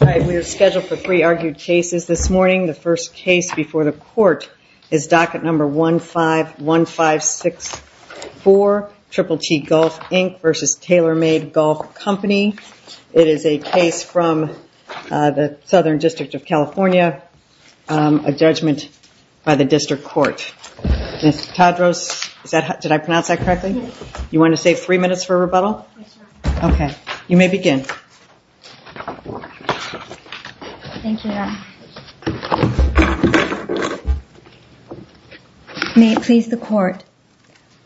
We are scheduled for three argued cases this morning. The first case before the court is docket number 151564, Triple T Golf, Inc. v. Taylor Made Golf Company. It is a case from the Southern District of California, a judgment by the District Court. Ms. Tadros, did I pronounce that correctly? You want to save three minutes for rebuttal? Yes, Your Honor. Okay, you may begin. Thank you, Your Honor. May it please the Court.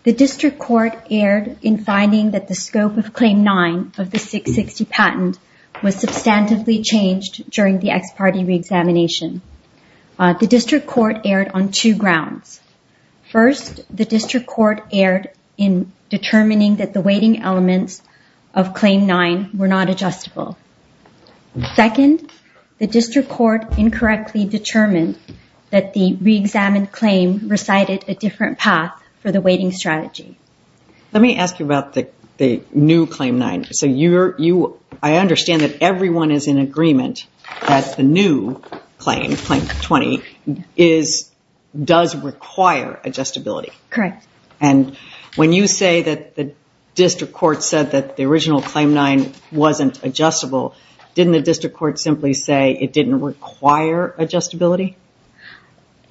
The District Court erred in finding that the scope of Claim 9 of the 660 patent was substantively changed during the ex parte reexamination. The District Court erred on two grounds. First, the District Court erred in determining that the weighting elements of Claim 9 were not adjustable. Second, the District Court incorrectly determined that the reexamined claim recited a different path for the weighting strategy. Let me ask you about the new Claim 9. I understand that everyone is in agreement that the new Claim, Claim 20, does require adjustability. Correct. And when you say that the District Court said that the original Claim 9 wasn't adjustable, didn't the District Court simply say it didn't require adjustability?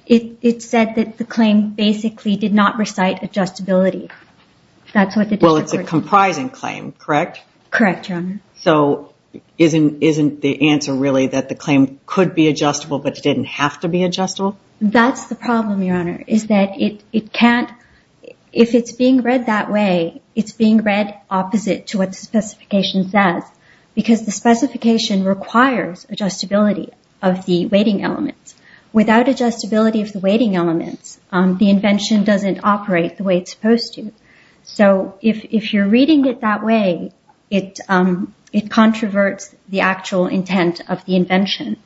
It said that the claim basically did not recite adjustability. Well, it's a comprising claim, correct? Correct, Your Honor. So isn't the answer really that the claim could be adjustable but it didn't have to be adjustable? That's the problem, Your Honor, is that if it's being read that way, it's being read opposite to what the specification says because the specification requires adjustability of the weighting elements. Without adjustability of the weighting elements, the invention doesn't operate the way it's supposed to. So if you're reading it that way, it controverts the actual intent of the invention.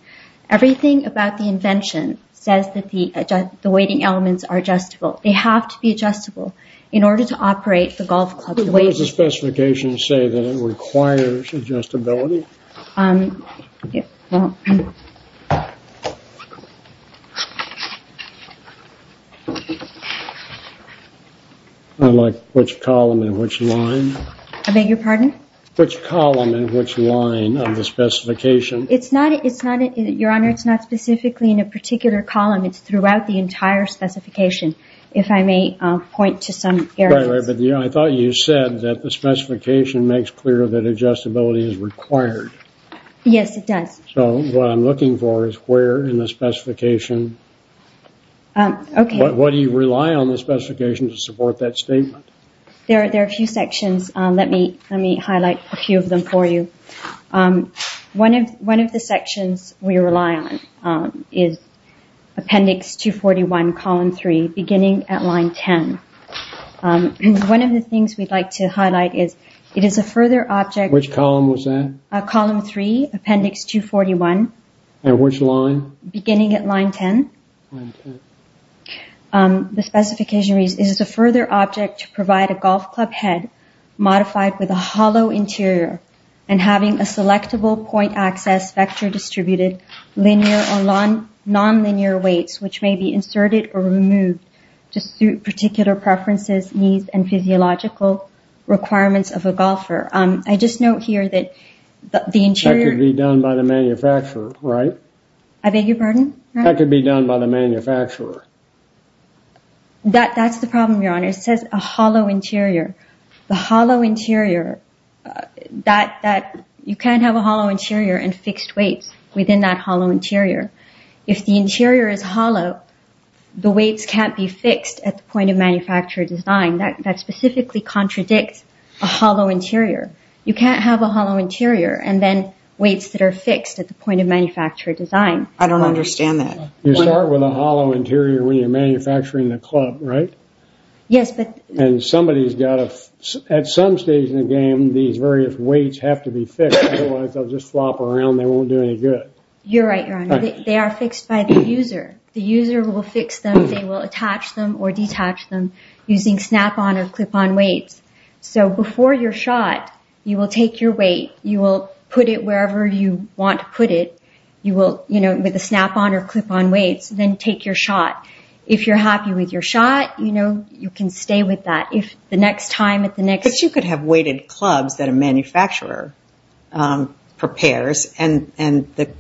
Everything about the invention says that the weighting elements are adjustable. They have to be adjustable in order to operate the golf club. What does the specification say that it requires adjustability? I like which column and which line. I beg your pardon? Which column and which line of the specification? It's not, Your Honor, it's not specifically in a particular column. It's throughout the entire specification. If I may point to some areas. Right, right. But I thought you said that the specification makes clear that adjustability is required. Yes, it does. So what I'm looking for is where in the specification, what do you rely on the specification to support that statement? There are a few sections. Let me highlight a few of them for you. One of the sections we rely on is appendix 241, column 3, beginning at line 10. One of the things we'd like to highlight is it is a further object. Which column was that? Column 3, appendix 241. And which line? Beginning at line 10. Line 10. The specification reads, it is a further object to provide a golf club head modified with a hollow interior and having a selectable point access vector distributed linear or nonlinear weights, which may be inserted or removed to suit particular preferences, needs, and physiological requirements of a golfer. I just note here that the interior- That could be done by the manufacturer, right? I beg your pardon? That could be done by the manufacturer. That's the problem, Your Honor. It says a hollow interior. The hollow interior, that you can't have a hollow interior and fixed weights within that hollow interior. If the interior is hollow, the weights can't be fixed at the point of manufacturer design. That specifically contradicts a hollow interior. You can't have a hollow interior and then weights that are fixed at the point of manufacturer design. I don't understand that. You start with a hollow interior when you're manufacturing the club, right? Yes, but- And somebody's got to- At some stage in the game, these various weights have to be fixed, otherwise they'll just flop around and they won't do any good. You're right, Your Honor. They are fixed by the user. The user will fix them. They will attach them or detach them using snap-on or clip-on weights. Before your shot, you will take your weight. You will put it wherever you want to put it with a snap-on or clip-on weight. Then take your shot. If you're happy with your shot, you can stay with that. If the next time, at the next- But you could have weighted clubs that a manufacturer prepares, and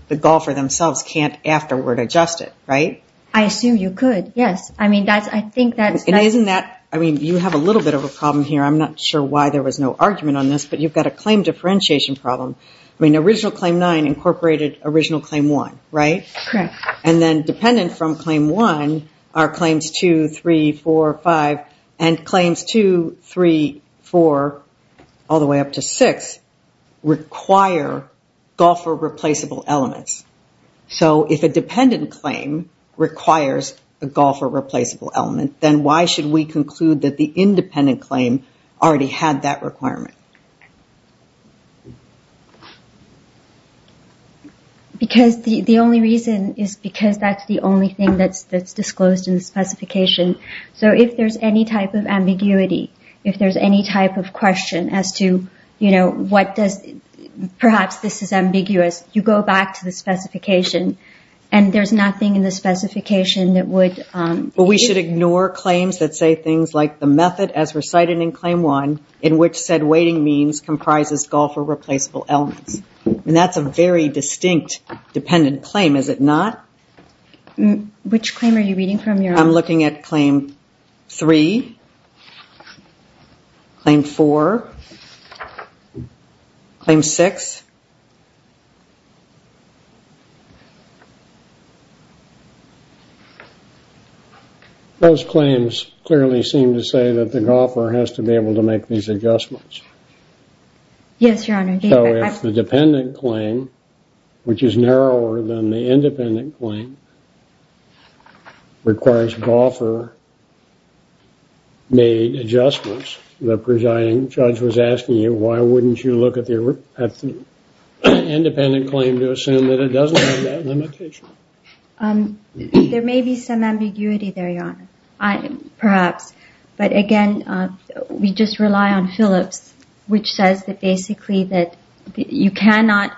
the golfer themselves can't afterward adjust it, right? I assume you could, yes. I mean, I think that's- And isn't that- I mean, you have a little bit of a problem here. I'm not sure why there was no argument on this, but you've got a claim differentiation problem. I mean, original Claim 9 incorporated original Claim 1, right? Correct. And then dependent from Claim 1 are Claims 2, 3, 4, 5, and Claims 2, 3, 4, all the way up to 6 require golfer-replaceable elements. So if a dependent claim requires a golfer-replaceable element, then why should we conclude that the independent claim already had that requirement? Because the only reason is because that's the only thing that's disclosed in the specification. So if there's any type of ambiguity, if there's any type of question as to, you know, and there's nothing in the specification that would- Well, we should ignore claims that say things like the method as recited in Claim 1, in which said weighting means comprises golfer-replaceable elements. And that's a very distinct dependent claim, is it not? Which claim are you reading from? I'm looking at Claim 3, Claim 4, Claim 6. Those claims clearly seem to say that the golfer has to be able to make these adjustments. Yes, Your Honor. So if the dependent claim, which is narrower than the independent claim, requires golfer-made adjustments, the presiding judge was asking you why wouldn't you look at the independent claim to assume that it doesn't have that limitation? There may be some ambiguity there, Your Honor, perhaps. But again, we just rely on Phillips, which says that basically that you cannot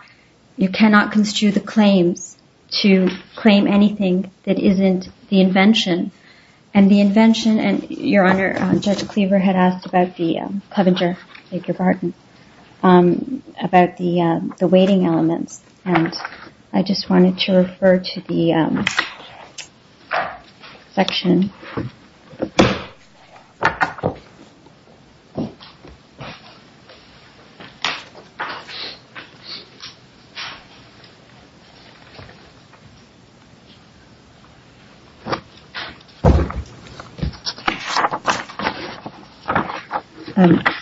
construe the claims to claim anything that isn't the invention. And the invention, and Your Honor, Judge Cleaver had asked about the Covinger, Edgar Barton, about the weighting elements, and I just wanted to refer to the section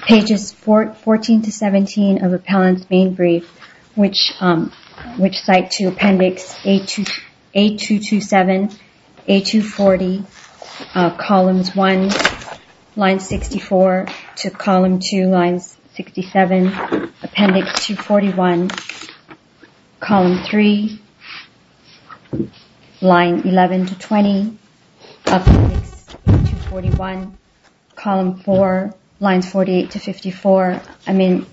Pages 14 to 17 of Appellant's Main Brief, which cite to Appendix A227, A240, Columns 1, Lines 64 to Column 2, Lines 67, Appendix 241, Column 3, Lines 11 to 20, Appendix 241, Column 4, Lines 48 to 54. I mean,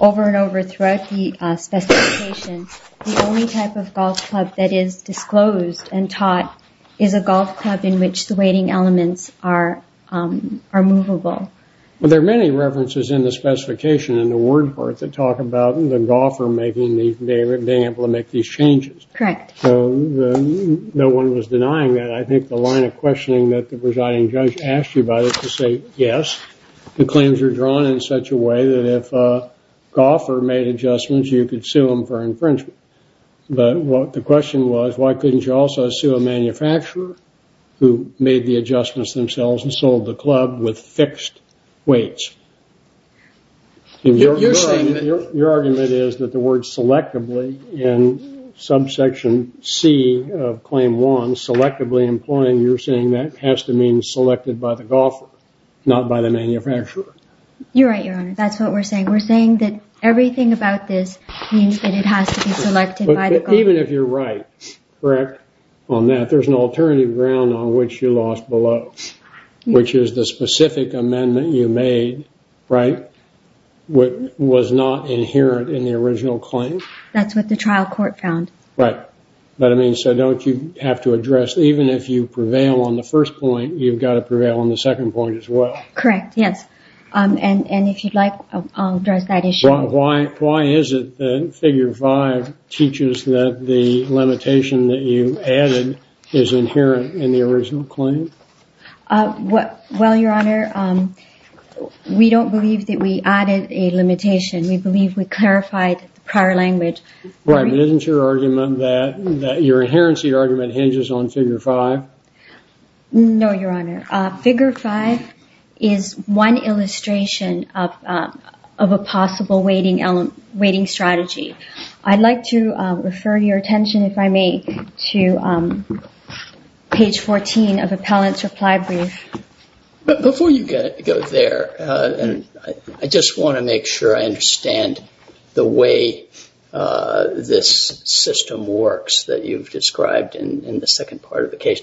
over and over throughout the specification, the only type of golf club that is disclosed and taught is a golf club in which the weighting elements are movable. Well, there are many references in the specification in the word part that talk about the golfer being able to make these changes. Correct. So no one was denying that. I think the line of questioning that the presiding judge asked you about is to say yes, the claims are drawn in such a way that if a golfer made adjustments, you could sue him for infringement. But the question was, why couldn't you also sue a manufacturer who made the adjustments themselves and sold the club with fixed weights? Your argument is that the word selectively in subsection C of Claim 1, selectively employing, you're saying that has to mean selected by the golfer, not by the manufacturer. You're right, Your Honor. That's what we're saying. We're saying that everything about this means that it has to be selected by the golfer. But even if you're right, correct, on that, there's an alternative ground on which you lost below, which is the specific amendment you made, right, which was not inherent in the original claim. That's what the trial court found. Right. But, I mean, so don't you have to address, even if you prevail on the first point, you've got to prevail on the second point as well. Correct, yes. And if you'd like, I'll address that issue. Why is it that Figure 5 teaches that the limitation that you added is inherent in the original claim? Well, Your Honor, we don't believe that we added a limitation. We believe we clarified the prior language. Right, but isn't your argument that your inherency argument hinges on Figure 5? No, Your Honor. Figure 5 is one illustration of a possible weighting strategy. I'd like to refer your attention, if I may, to page 14 of Appellant's reply brief. Before you go there, I just want to make sure I understand the way this system works that you've described in the second part of the case.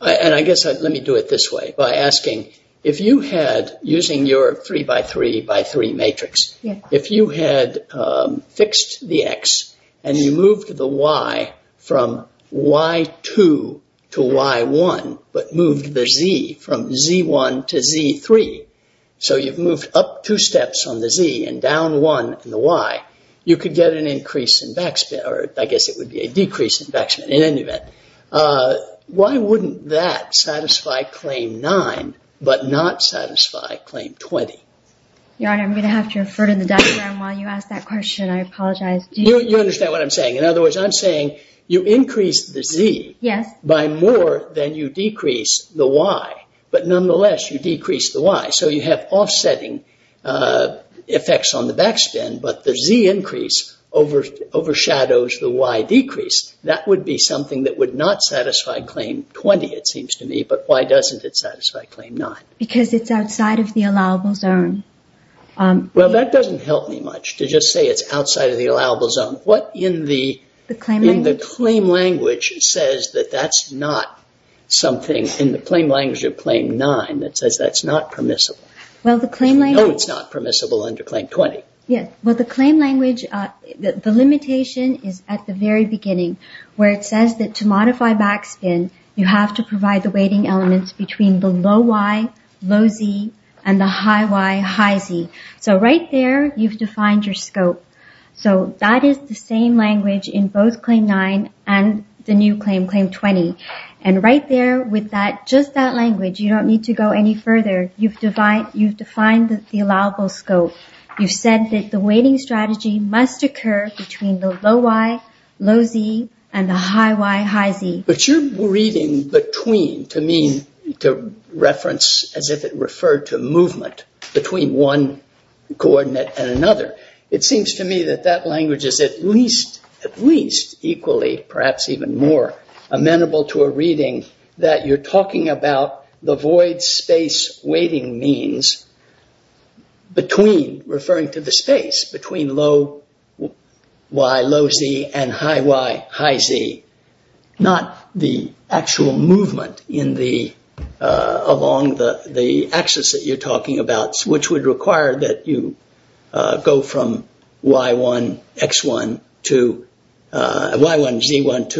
And I guess let me do it this way by asking, if you had, using your 3 by 3 by 3 matrix, if you had fixed the x and you moved the y from y2 to y1 but moved the z from z1 to z3, so you've moved up two steps on the z and down one on the y, you could get an increase in backspin, or I guess it would be a decrease in backspin in any event. Why wouldn't that satisfy Claim 9 but not satisfy Claim 20? Your Honor, I'm going to have to refer to the diagram while you ask that question. I apologize. You understand what I'm saying. In other words, I'm saying you increase the z by more than you decrease the y, but nonetheless you decrease the y. So you have offsetting effects on the backspin, but the z increase overshadows the y decrease. That would be something that would not satisfy Claim 20, it seems to me, but why doesn't it satisfy Claim 9? Because it's outside of the allowable zone. Well, that doesn't help me much to just say it's outside of the allowable zone. What in the claim language says that that's not something, in the claim language of Claim 9 that says that's not permissible? No, it's not permissible under Claim 20. Well, the claim language, the limitation is at the very beginning where it says that to modify backspin, you have to provide the weighting elements between the low y, low z, and the high y, high z. So right there, you've defined your scope. So that is the same language in both Claim 9 and the new claim, Claim 20. And right there with just that language, you don't need to go any further. You've defined the allowable scope. You said that the weighting strategy must occur between the low y, low z, and the high y, high z. But you're reading between to mean, to reference as if it referred to movement between one coordinate and another. It seems to me that that language is at least equally, perhaps even more, amenable to a reading that you're talking about the void space weighting means between, referring to the space, between low y, low z, and high y, high z, not the actual movement along the axis that you're talking about, which would require that you go from y1, z1, to y3,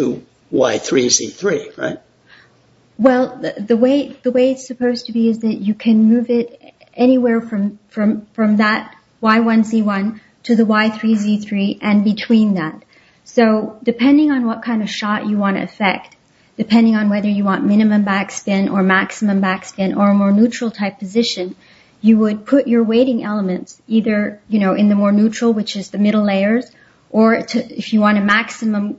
z3, right? Well, the way it's supposed to be is that you can move it anywhere from that y1, z1 to the y3, z3, and between that. So depending on what kind of shot you want to affect, depending on whether you want minimum backspin or maximum backspin or a more neutral type position, you would put your weighting elements either in the more neutral, which is the middle layers, or if you want a maximum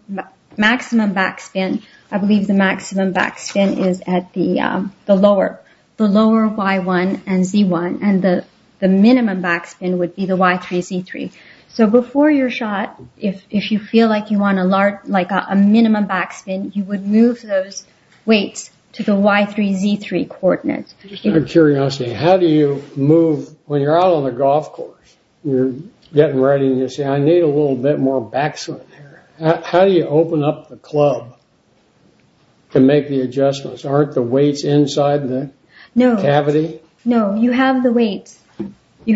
backspin, I believe the maximum backspin is at the lower, the lower y1 and z1, and the minimum backspin would be the y3, z3. So before your shot, if you feel like you want a minimum backspin, you would move those weights to the y3, z3 coordinates. Out of curiosity, how do you move, when you're out on a golf course, you're getting ready and you say, I need a little bit more backspin here. How do you open up the club to make the adjustments? Aren't the weights inside the cavity? No, you have the weights. You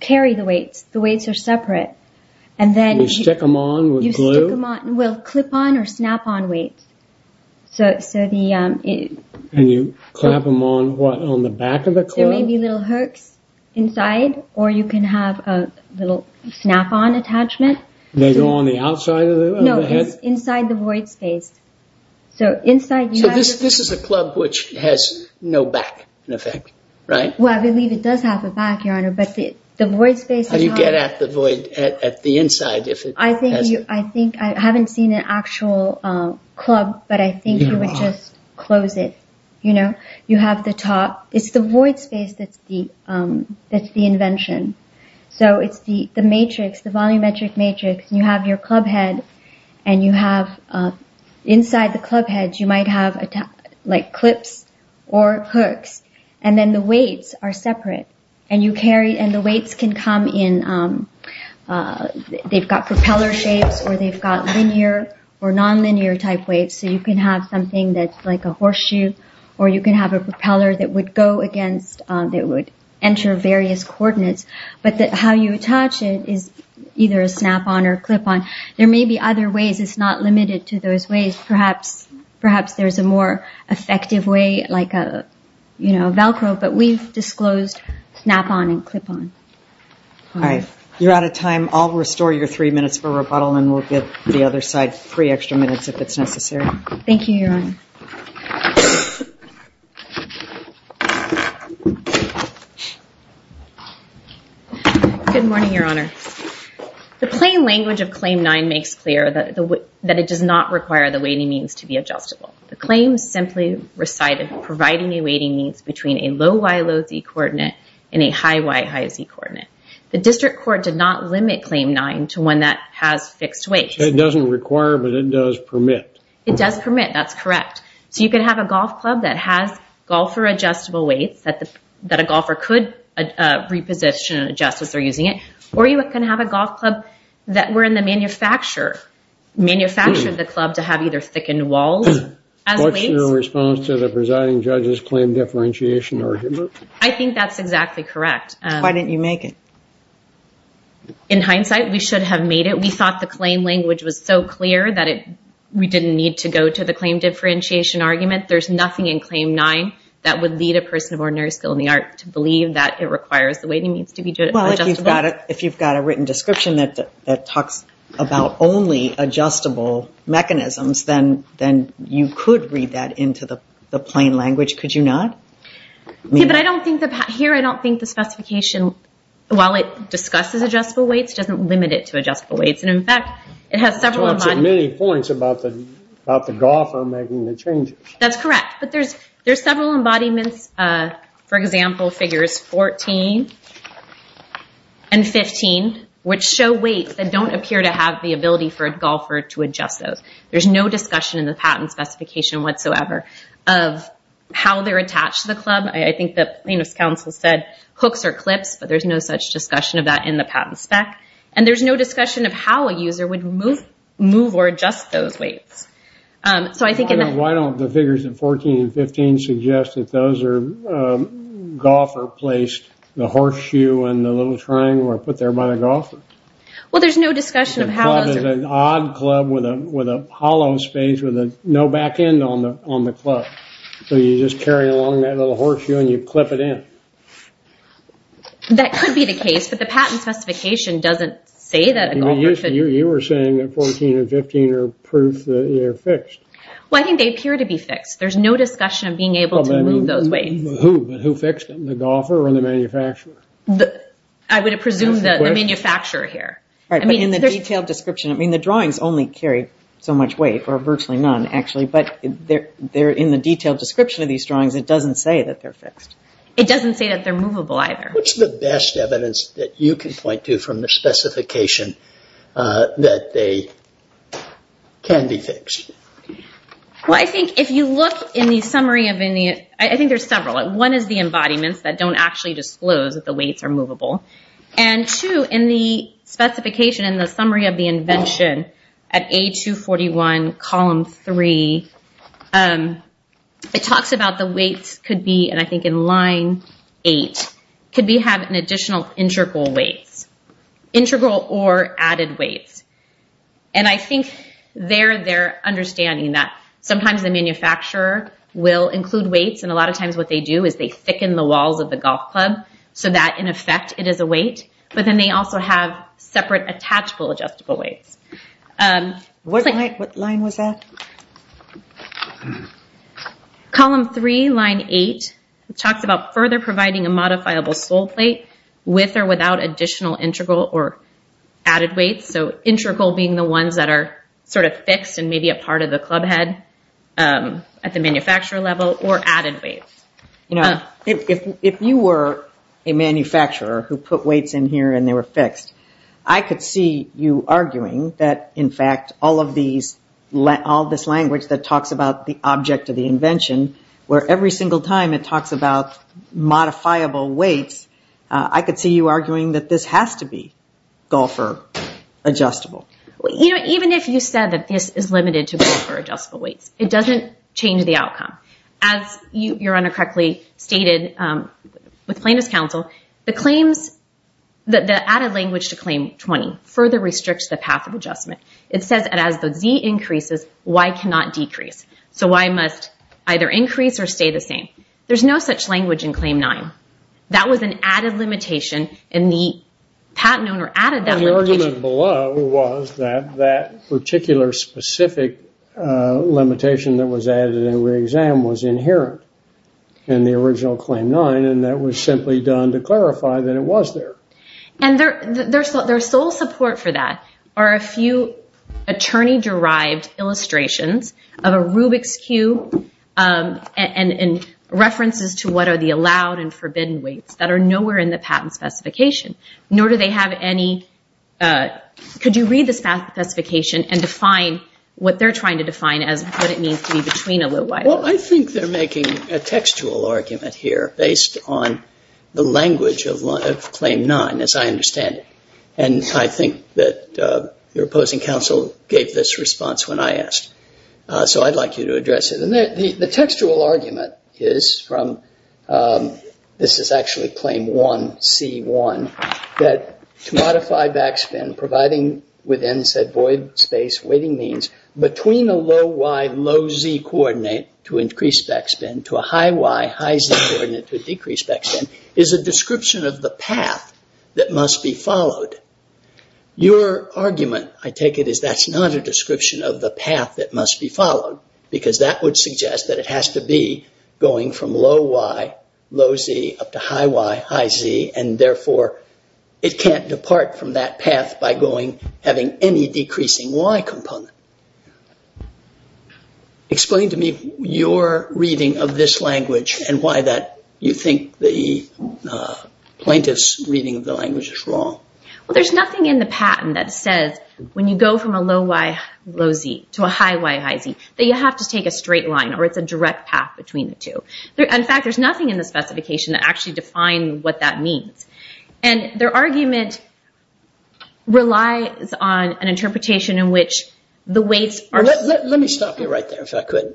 carry the weights. The weights are separate. You stick them on with glue? You stick them on with clip-on or snap-on weights. And you clamp them on, what, on the back of the club? There may be little hooks inside, or you can have a little snap-on attachment. They go on the outside of the head? No, it's inside the void space. So this is a club which has no back, in effect, right? Well, I believe it does have a back, Your Honor, but the void space is not... How do you get at the void, at the inside? I haven't seen an actual club, but I think you would just close it. You have the top. It's the void space that's the invention. So it's the matrix, the volumetric matrix. You have your club head, and inside the club head, you might have clips or hooks. And then the weights are separate. And the weights can come in. They've got propeller shapes, or they've got linear or nonlinear-type weights. So you can have something that's like a horseshoe, or you can have a propeller that would go against, that would enter various coordinates. But how you attach it is either a snap-on or a clip-on. There may be other ways. It's not limited to those ways. Perhaps there's a more effective way, like a Velcro, but we've disclosed snap-on and clip-on. All right. You're out of time. I'll restore your three minutes for rebuttal, and we'll give the other side three extra minutes if it's necessary. Thank you, Your Honor. Good morning, Your Honor. The plain language of Claim 9 makes clear that it does not require the weighting means to be adjustable. The claim simply recited providing a weighting means between a low Y, low Z coordinate and a high Y, high Z coordinate. The district court did not limit Claim 9 to one that has fixed weights. It doesn't require, but it does permit. It does permit. That's correct. So you can have a golf club that has golfer-adjustable weights, that a golfer could reposition and adjust as they're using it, or you can have a golf club that were in the manufacturer, manufactured the club to have either thickened walls as weights. What's your response to the presiding judge's claim differentiation argument? I think that's exactly correct. Why didn't you make it? In hindsight, we should have made it. We thought the claim language was so clear that we didn't need to go to the claim differentiation argument. There's nothing in Claim 9 that would lead a person of ordinary skill in the art to believe that it requires the weighting means to be adjustable. Well, if you've got a written description that talks about only adjustable mechanisms, then you could read that into the plain language, could you not? Here, I don't think the specification, while it discusses adjustable weights, doesn't limit it to adjustable weights. It talks at many points about the golfer making the changes. That's correct, but there's several embodiments. For example, figures 14 and 15, which show weights that don't appear to have the ability for a golfer to adjust those. There's no discussion in the patent specification whatsoever of how they're attached to the club. I think the plaintiff's counsel said hooks or clips, but there's no such discussion of that in the patent spec. There's no discussion of how a user would move or adjust those weights. Why don't the figures in 14 and 15 suggest that those are golfer placed, the horseshoe and the little triangle are put there by the golfer? The club is an odd club with a hollow space with no back end on the club. So you just carry along that little horseshoe and you clip it in. That could be the case, but the patent specification doesn't say that. You were saying that 14 and 15 are proof that they're fixed. Well, I think they appear to be fixed. There's no discussion of being able to move those weights. Who fixed them, the golfer or the manufacturer? I would presume the manufacturer here. In the detailed description, the drawings only carry so much weight, or virtually none actually, but in the detailed description of these drawings, it doesn't say that they're fixed. It doesn't say that they're movable either. What's the best evidence that you can point to from the specification that they can be fixed? Well, I think if you look in the summary, I think there's several. One is the embodiments that don't actually disclose that the weights are movable. And two, in the specification, in the summary of the invention at A241, column 3, it talks about the weights could be, and I think in line 8, could have an additional integral weights, integral or added weights. And I think they're understanding that sometimes the manufacturer will include weights, and a lot of times what they do is they thicken the walls of the golf club, so that in effect it is a weight. But then they also have separate attachable adjustable weights. What line was that? Column 3, line 8, it talks about further providing a modifiable soleplate with or without additional integral or added weights. So integral being the ones that are sort of fixed and maybe a part of the club head at the manufacturer level or added weights. If you were a manufacturer who put weights in here and they were fixed, I could see you arguing that, in fact, all of this language that talks about the object of the invention, where every single time it talks about modifiable weights, I could see you arguing that this has to be golfer adjustable. Even if you said that this is limited to golfer adjustable weights, it doesn't change the outcome. As your Honor correctly stated with plaintiff's counsel, the added language to Claim 20 further restricts the path of adjustment. It says that as the Z increases, Y cannot decrease. So Y must either increase or stay the same. There's no such language in Claim 9. That was an added limitation, and the patent owner added that limitation. The argument below was that that particular specific limitation that was added in the re-exam was inherent in the original Claim 9, and that was simply done to clarify that it was there. And their sole support for that are a few attorney-derived illustrations of a Rubik's Cube and references to what are the allowed and forbidden weights that are nowhere in the patent specification, nor do they have any, could you read the specification and define what they're trying to define as what it means to be between a low Y. Well, I think they're making a textual argument here based on the language of Claim 9, as I understand it. And I think that your opposing counsel gave this response when I asked. So I'd like you to address it. The textual argument is from, this is actually Claim 1C1, that to modify backspin providing within said void space waiting means between a low Y, low Z coordinate to increase backspin to a high Y, high Z coordinate to decrease backspin is a description of the path that must be followed. Your argument, I take it, is that's not a description of the path that must be followed because that would suggest that it has to be going from low Y, low Z up to high Y, high Z and therefore it can't depart from that path by having any decreasing Y component. Explain to me your reading of this language and why you think the plaintiff's reading of the language is wrong. Well, there's nothing in the patent that says when you go from a low Y, low Z to a high Y, high Z that you have to take a straight line or it's a direct path between the two. In fact, there's nothing in the specification that actually defines what that means. And their argument relies on an interpretation in which the weights are... Let me stop you right there if I could.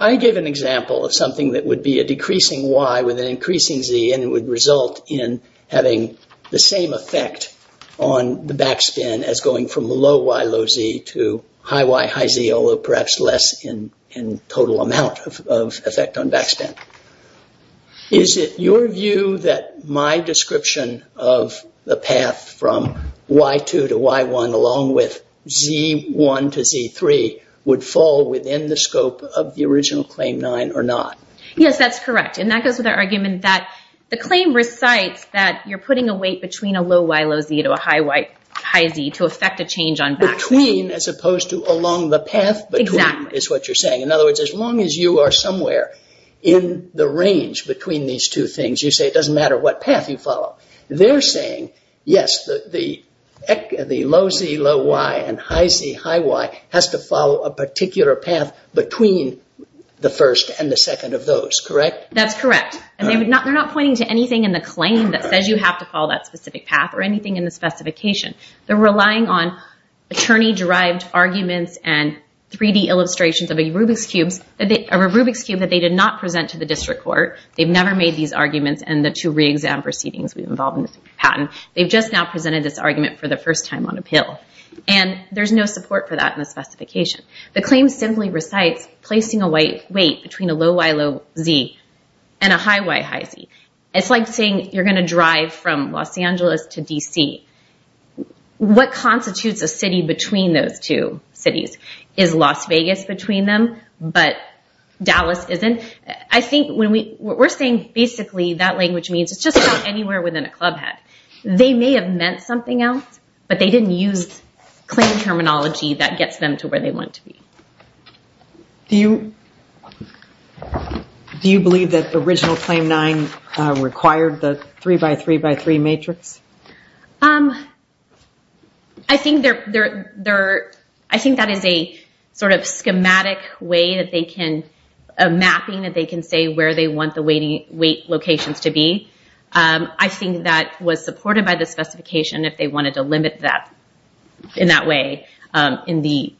I gave an example of something that would be a decreasing Y with an increasing Z and it would result in having the same effect on the backspin as going from low Y, low Z to high Y, high Z although perhaps less in total amount of effect on backspin. Is it your view that my description of the path from Y2 to Y1 along with Z1 to Z3 would fall within the scope of the original Claim 9 or not? Yes, that's correct. And that goes with the argument that the claim recites that you're putting a weight between a low Y, low Z to a high Z to affect a change on backspin. Between as opposed to along the path between is what you're saying. In other words, as long as you are somewhere in the range between these two things, you say it doesn't matter what path you follow. They're saying, yes, the low Z, low Y and high Z, high Y has to follow a particular path between the first and the second of those, correct? That's correct. And they're not pointing to anything in the claim that says you have to follow that specific path or anything in the specification. They're relying on attorney-derived arguments and 3D illustrations of a Rubik's Cube that they did not present to the District Court. They've never made these arguments and the two re-exam proceedings we've involved in this patent. They've just now presented this argument for the first time on appeal. And there's no support for that in the specification. The claim simply recites placing a weight between a low Y, low Z and a high Y, high Z. It's like saying you're going to drive from Los Angeles to D.C. What constitutes a city between those two cities? Is Las Vegas between them, but Dallas isn't? I think what we're saying basically that language means it's just about anywhere within a club head. They may have meant something else, but they didn't use claim terminology that gets them to where they want to be. Do you believe that the original Claim 9 required the 3x3x3 matrix? I think that is a sort of schematic way of mapping that they can say where they want the weight locations to be. I think that was supported by the specification if they wanted to limit that in that way in the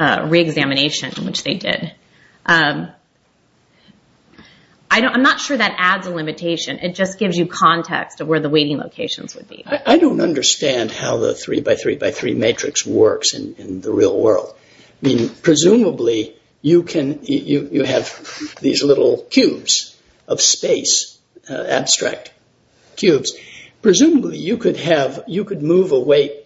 re-examination which they did. I'm not sure that adds a limitation. It just gives you context of where the weighting locations would be. I don't understand how the 3x3x3 matrix works in the real world. Presumably you have these little cubes of space, abstract cubes. Presumably you could move a weight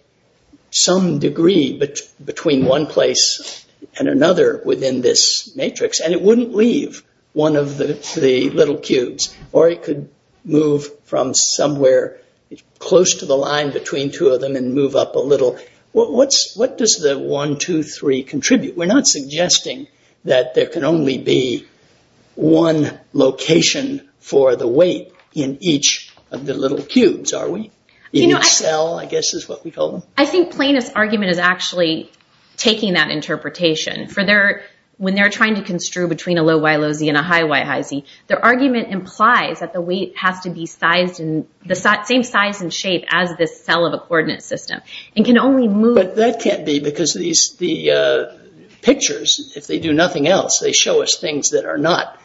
some degree between one place and another within this matrix, and it wouldn't leave one of the little cubes. Or it could move from somewhere close to the line between two of them and move up a little. What does the 1, 2, 3 contribute? We're not suggesting that there can only be one location for the weight in each of the little cubes, are we? In each cell, I guess is what we call them. I think Plano's argument is actually taking that interpretation. When they're trying to construe between a low y, low z and a high y, high z, their argument implies that the weight has to be the same size and shape as the cell of a coordinate system. But that can't be because the pictures, if they do nothing else, they show us things that are not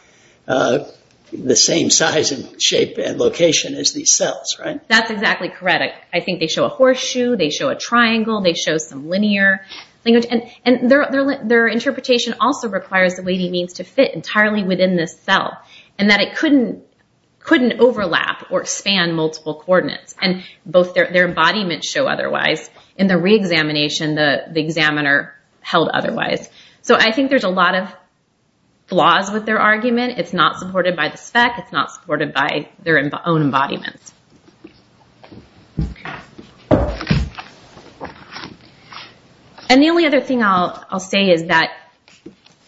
the same size and shape and location as these cells, right? That's exactly correct. I think they show a horseshoe, they show a triangle, they show some linear language. Their interpretation also requires the weighting means to fit entirely within this cell and that it couldn't overlap or span multiple coordinates. Both their embodiments show otherwise. In the reexamination, the examiner held otherwise. I think there's a lot of flaws with their argument. It's not supported by the spec. It's not supported by their own embodiment. The only other thing I'll say is that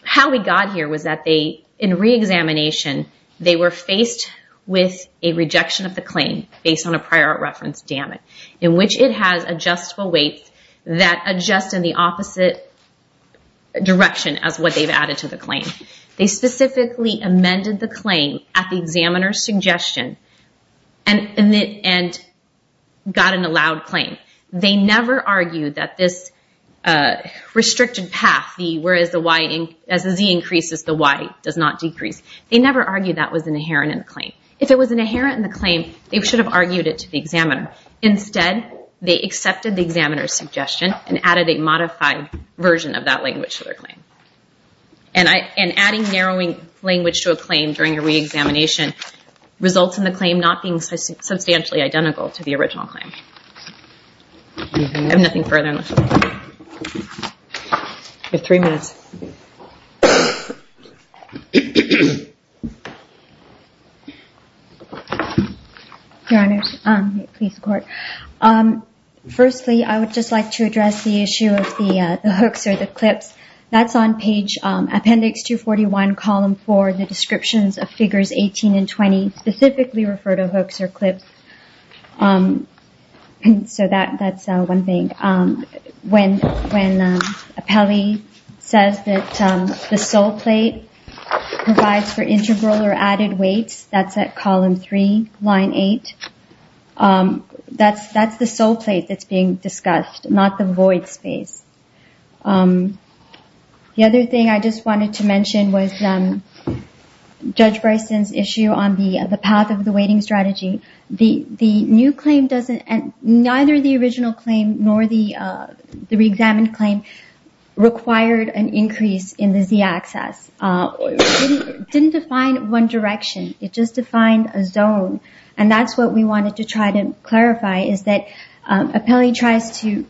how we got here was that in reexamination, they were faced with a rejection of the claim based on a prior reference damage in which it has adjustable weights that adjust in the opposite direction as what they've added to the claim. They specifically amended the claim at the examiner's suggestion and got an allowed claim. They never argued that this restricted path, whereas as the Z increases, the Y does not decrease. They never argued that was inherent in the claim. If it was inherent in the claim, they should have argued it to the examiner. Instead, they accepted the examiner's suggestion and added a modified version of that language to their claim. And adding narrowing language to a claim during a reexamination results in the claim not being substantially identical to the original claim. I have nothing further. You have three minutes. Your Honor, please record. Firstly, I would just like to address the issue of the hooks or the clips. That's on page appendix 241, column 4, the descriptions of figures 18 and 20 specifically refer to hooks or clips. So that's one thing. When Appelli says that the sole plate provides for integral or added weights, that's at column 3, line 8. That's the sole plate that's being discussed, not the void space. The other thing I just wanted to mention was Judge Bryson's issue on the path of the weighting strategy. Neither the original claim nor the reexamined claim required an increase in the z-axis. It didn't define one direction. It just defined a zone. And that's what we wanted to try to clarify, is that Appelli tries to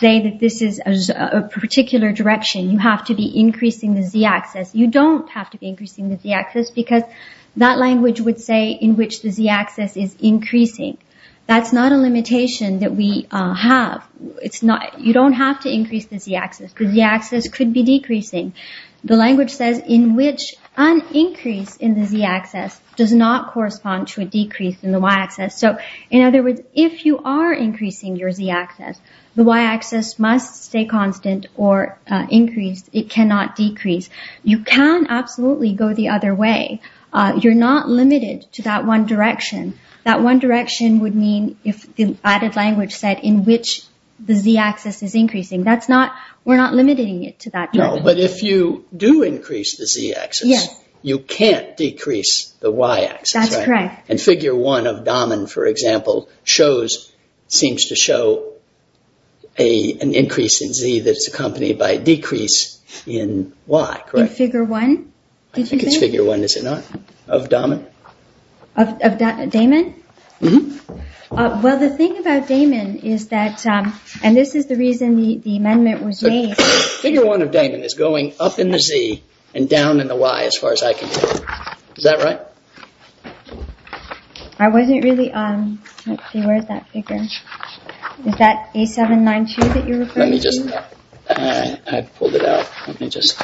say that this is a particular direction. You have to be increasing the z-axis. You don't have to be increasing the z-axis because that language would say in which the z-axis is increasing. That's not a limitation that we have. You don't have to increase the z-axis. The z-axis could be decreasing. The language says in which an increase in the z-axis does not correspond to a decrease in the y-axis. In other words, if you are increasing your z-axis, the y-axis must stay constant or increase. It cannot decrease. You can absolutely go the other way. You're not limited to that one direction. That one direction would mean if the added language said in which the z-axis is increasing. We're not limiting it to that direction. But if you do increase the z-axis, you can't decrease the y-axis. That's correct. And Figure 1 of Dahman, for example, seems to show an increase in z that's accompanied by a decrease in y. In Figure 1? I think it's Figure 1, is it not? Of Dahman? Of Dahman? Mm-hmm. Well, the thing about Dahman is that, and this is the reason the amendment was made. Figure 1 of Dahman is going up in the z and down in the y, as far as I can tell. Is that right? I wasn't really, let's see, where's that figure? Is that A792 that you're referring to? Let me just, I pulled it out. Let me just,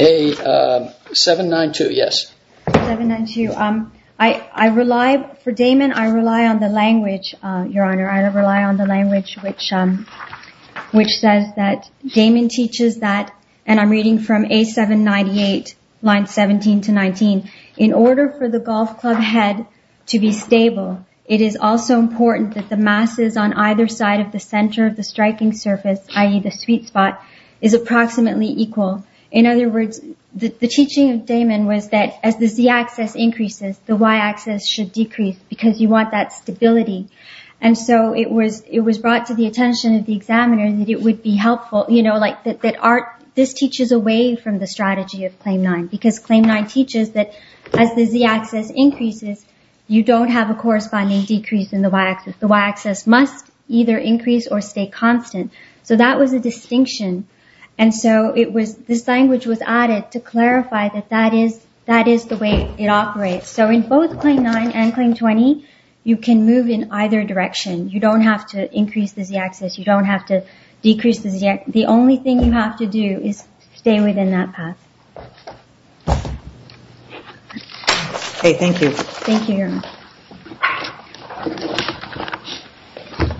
A792, yes. A792. I rely, for Dahman, I rely on the language, Your Honor. I rely on the language which says that Dahman teaches that, and I'm reading from A798, lines 17 to 19, in order for the golf club head to be stable, it is also important that the masses on either side of the center of the striking surface, i.e., the sweet spot, is approximately equal. In other words, the teaching of Dahman was that as the z-axis increases, the y-axis should decrease because you want that stability. And so it was brought to the attention of the examiner that it would be helpful, you know, that this teaches away from the strategy of Claim 9 because Claim 9 teaches that as the z-axis increases, you don't have a corresponding decrease in the y-axis. The y-axis must either increase or stay constant. So that was a distinction. And so this language was added to clarify that that is the way it operates. So in both Claim 9 and Claim 20, you can move in either direction. You don't have to increase the z-axis. You don't have to decrease the z-axis. The only thing you have to do is stay within that path. Okay, thank you. Thank you.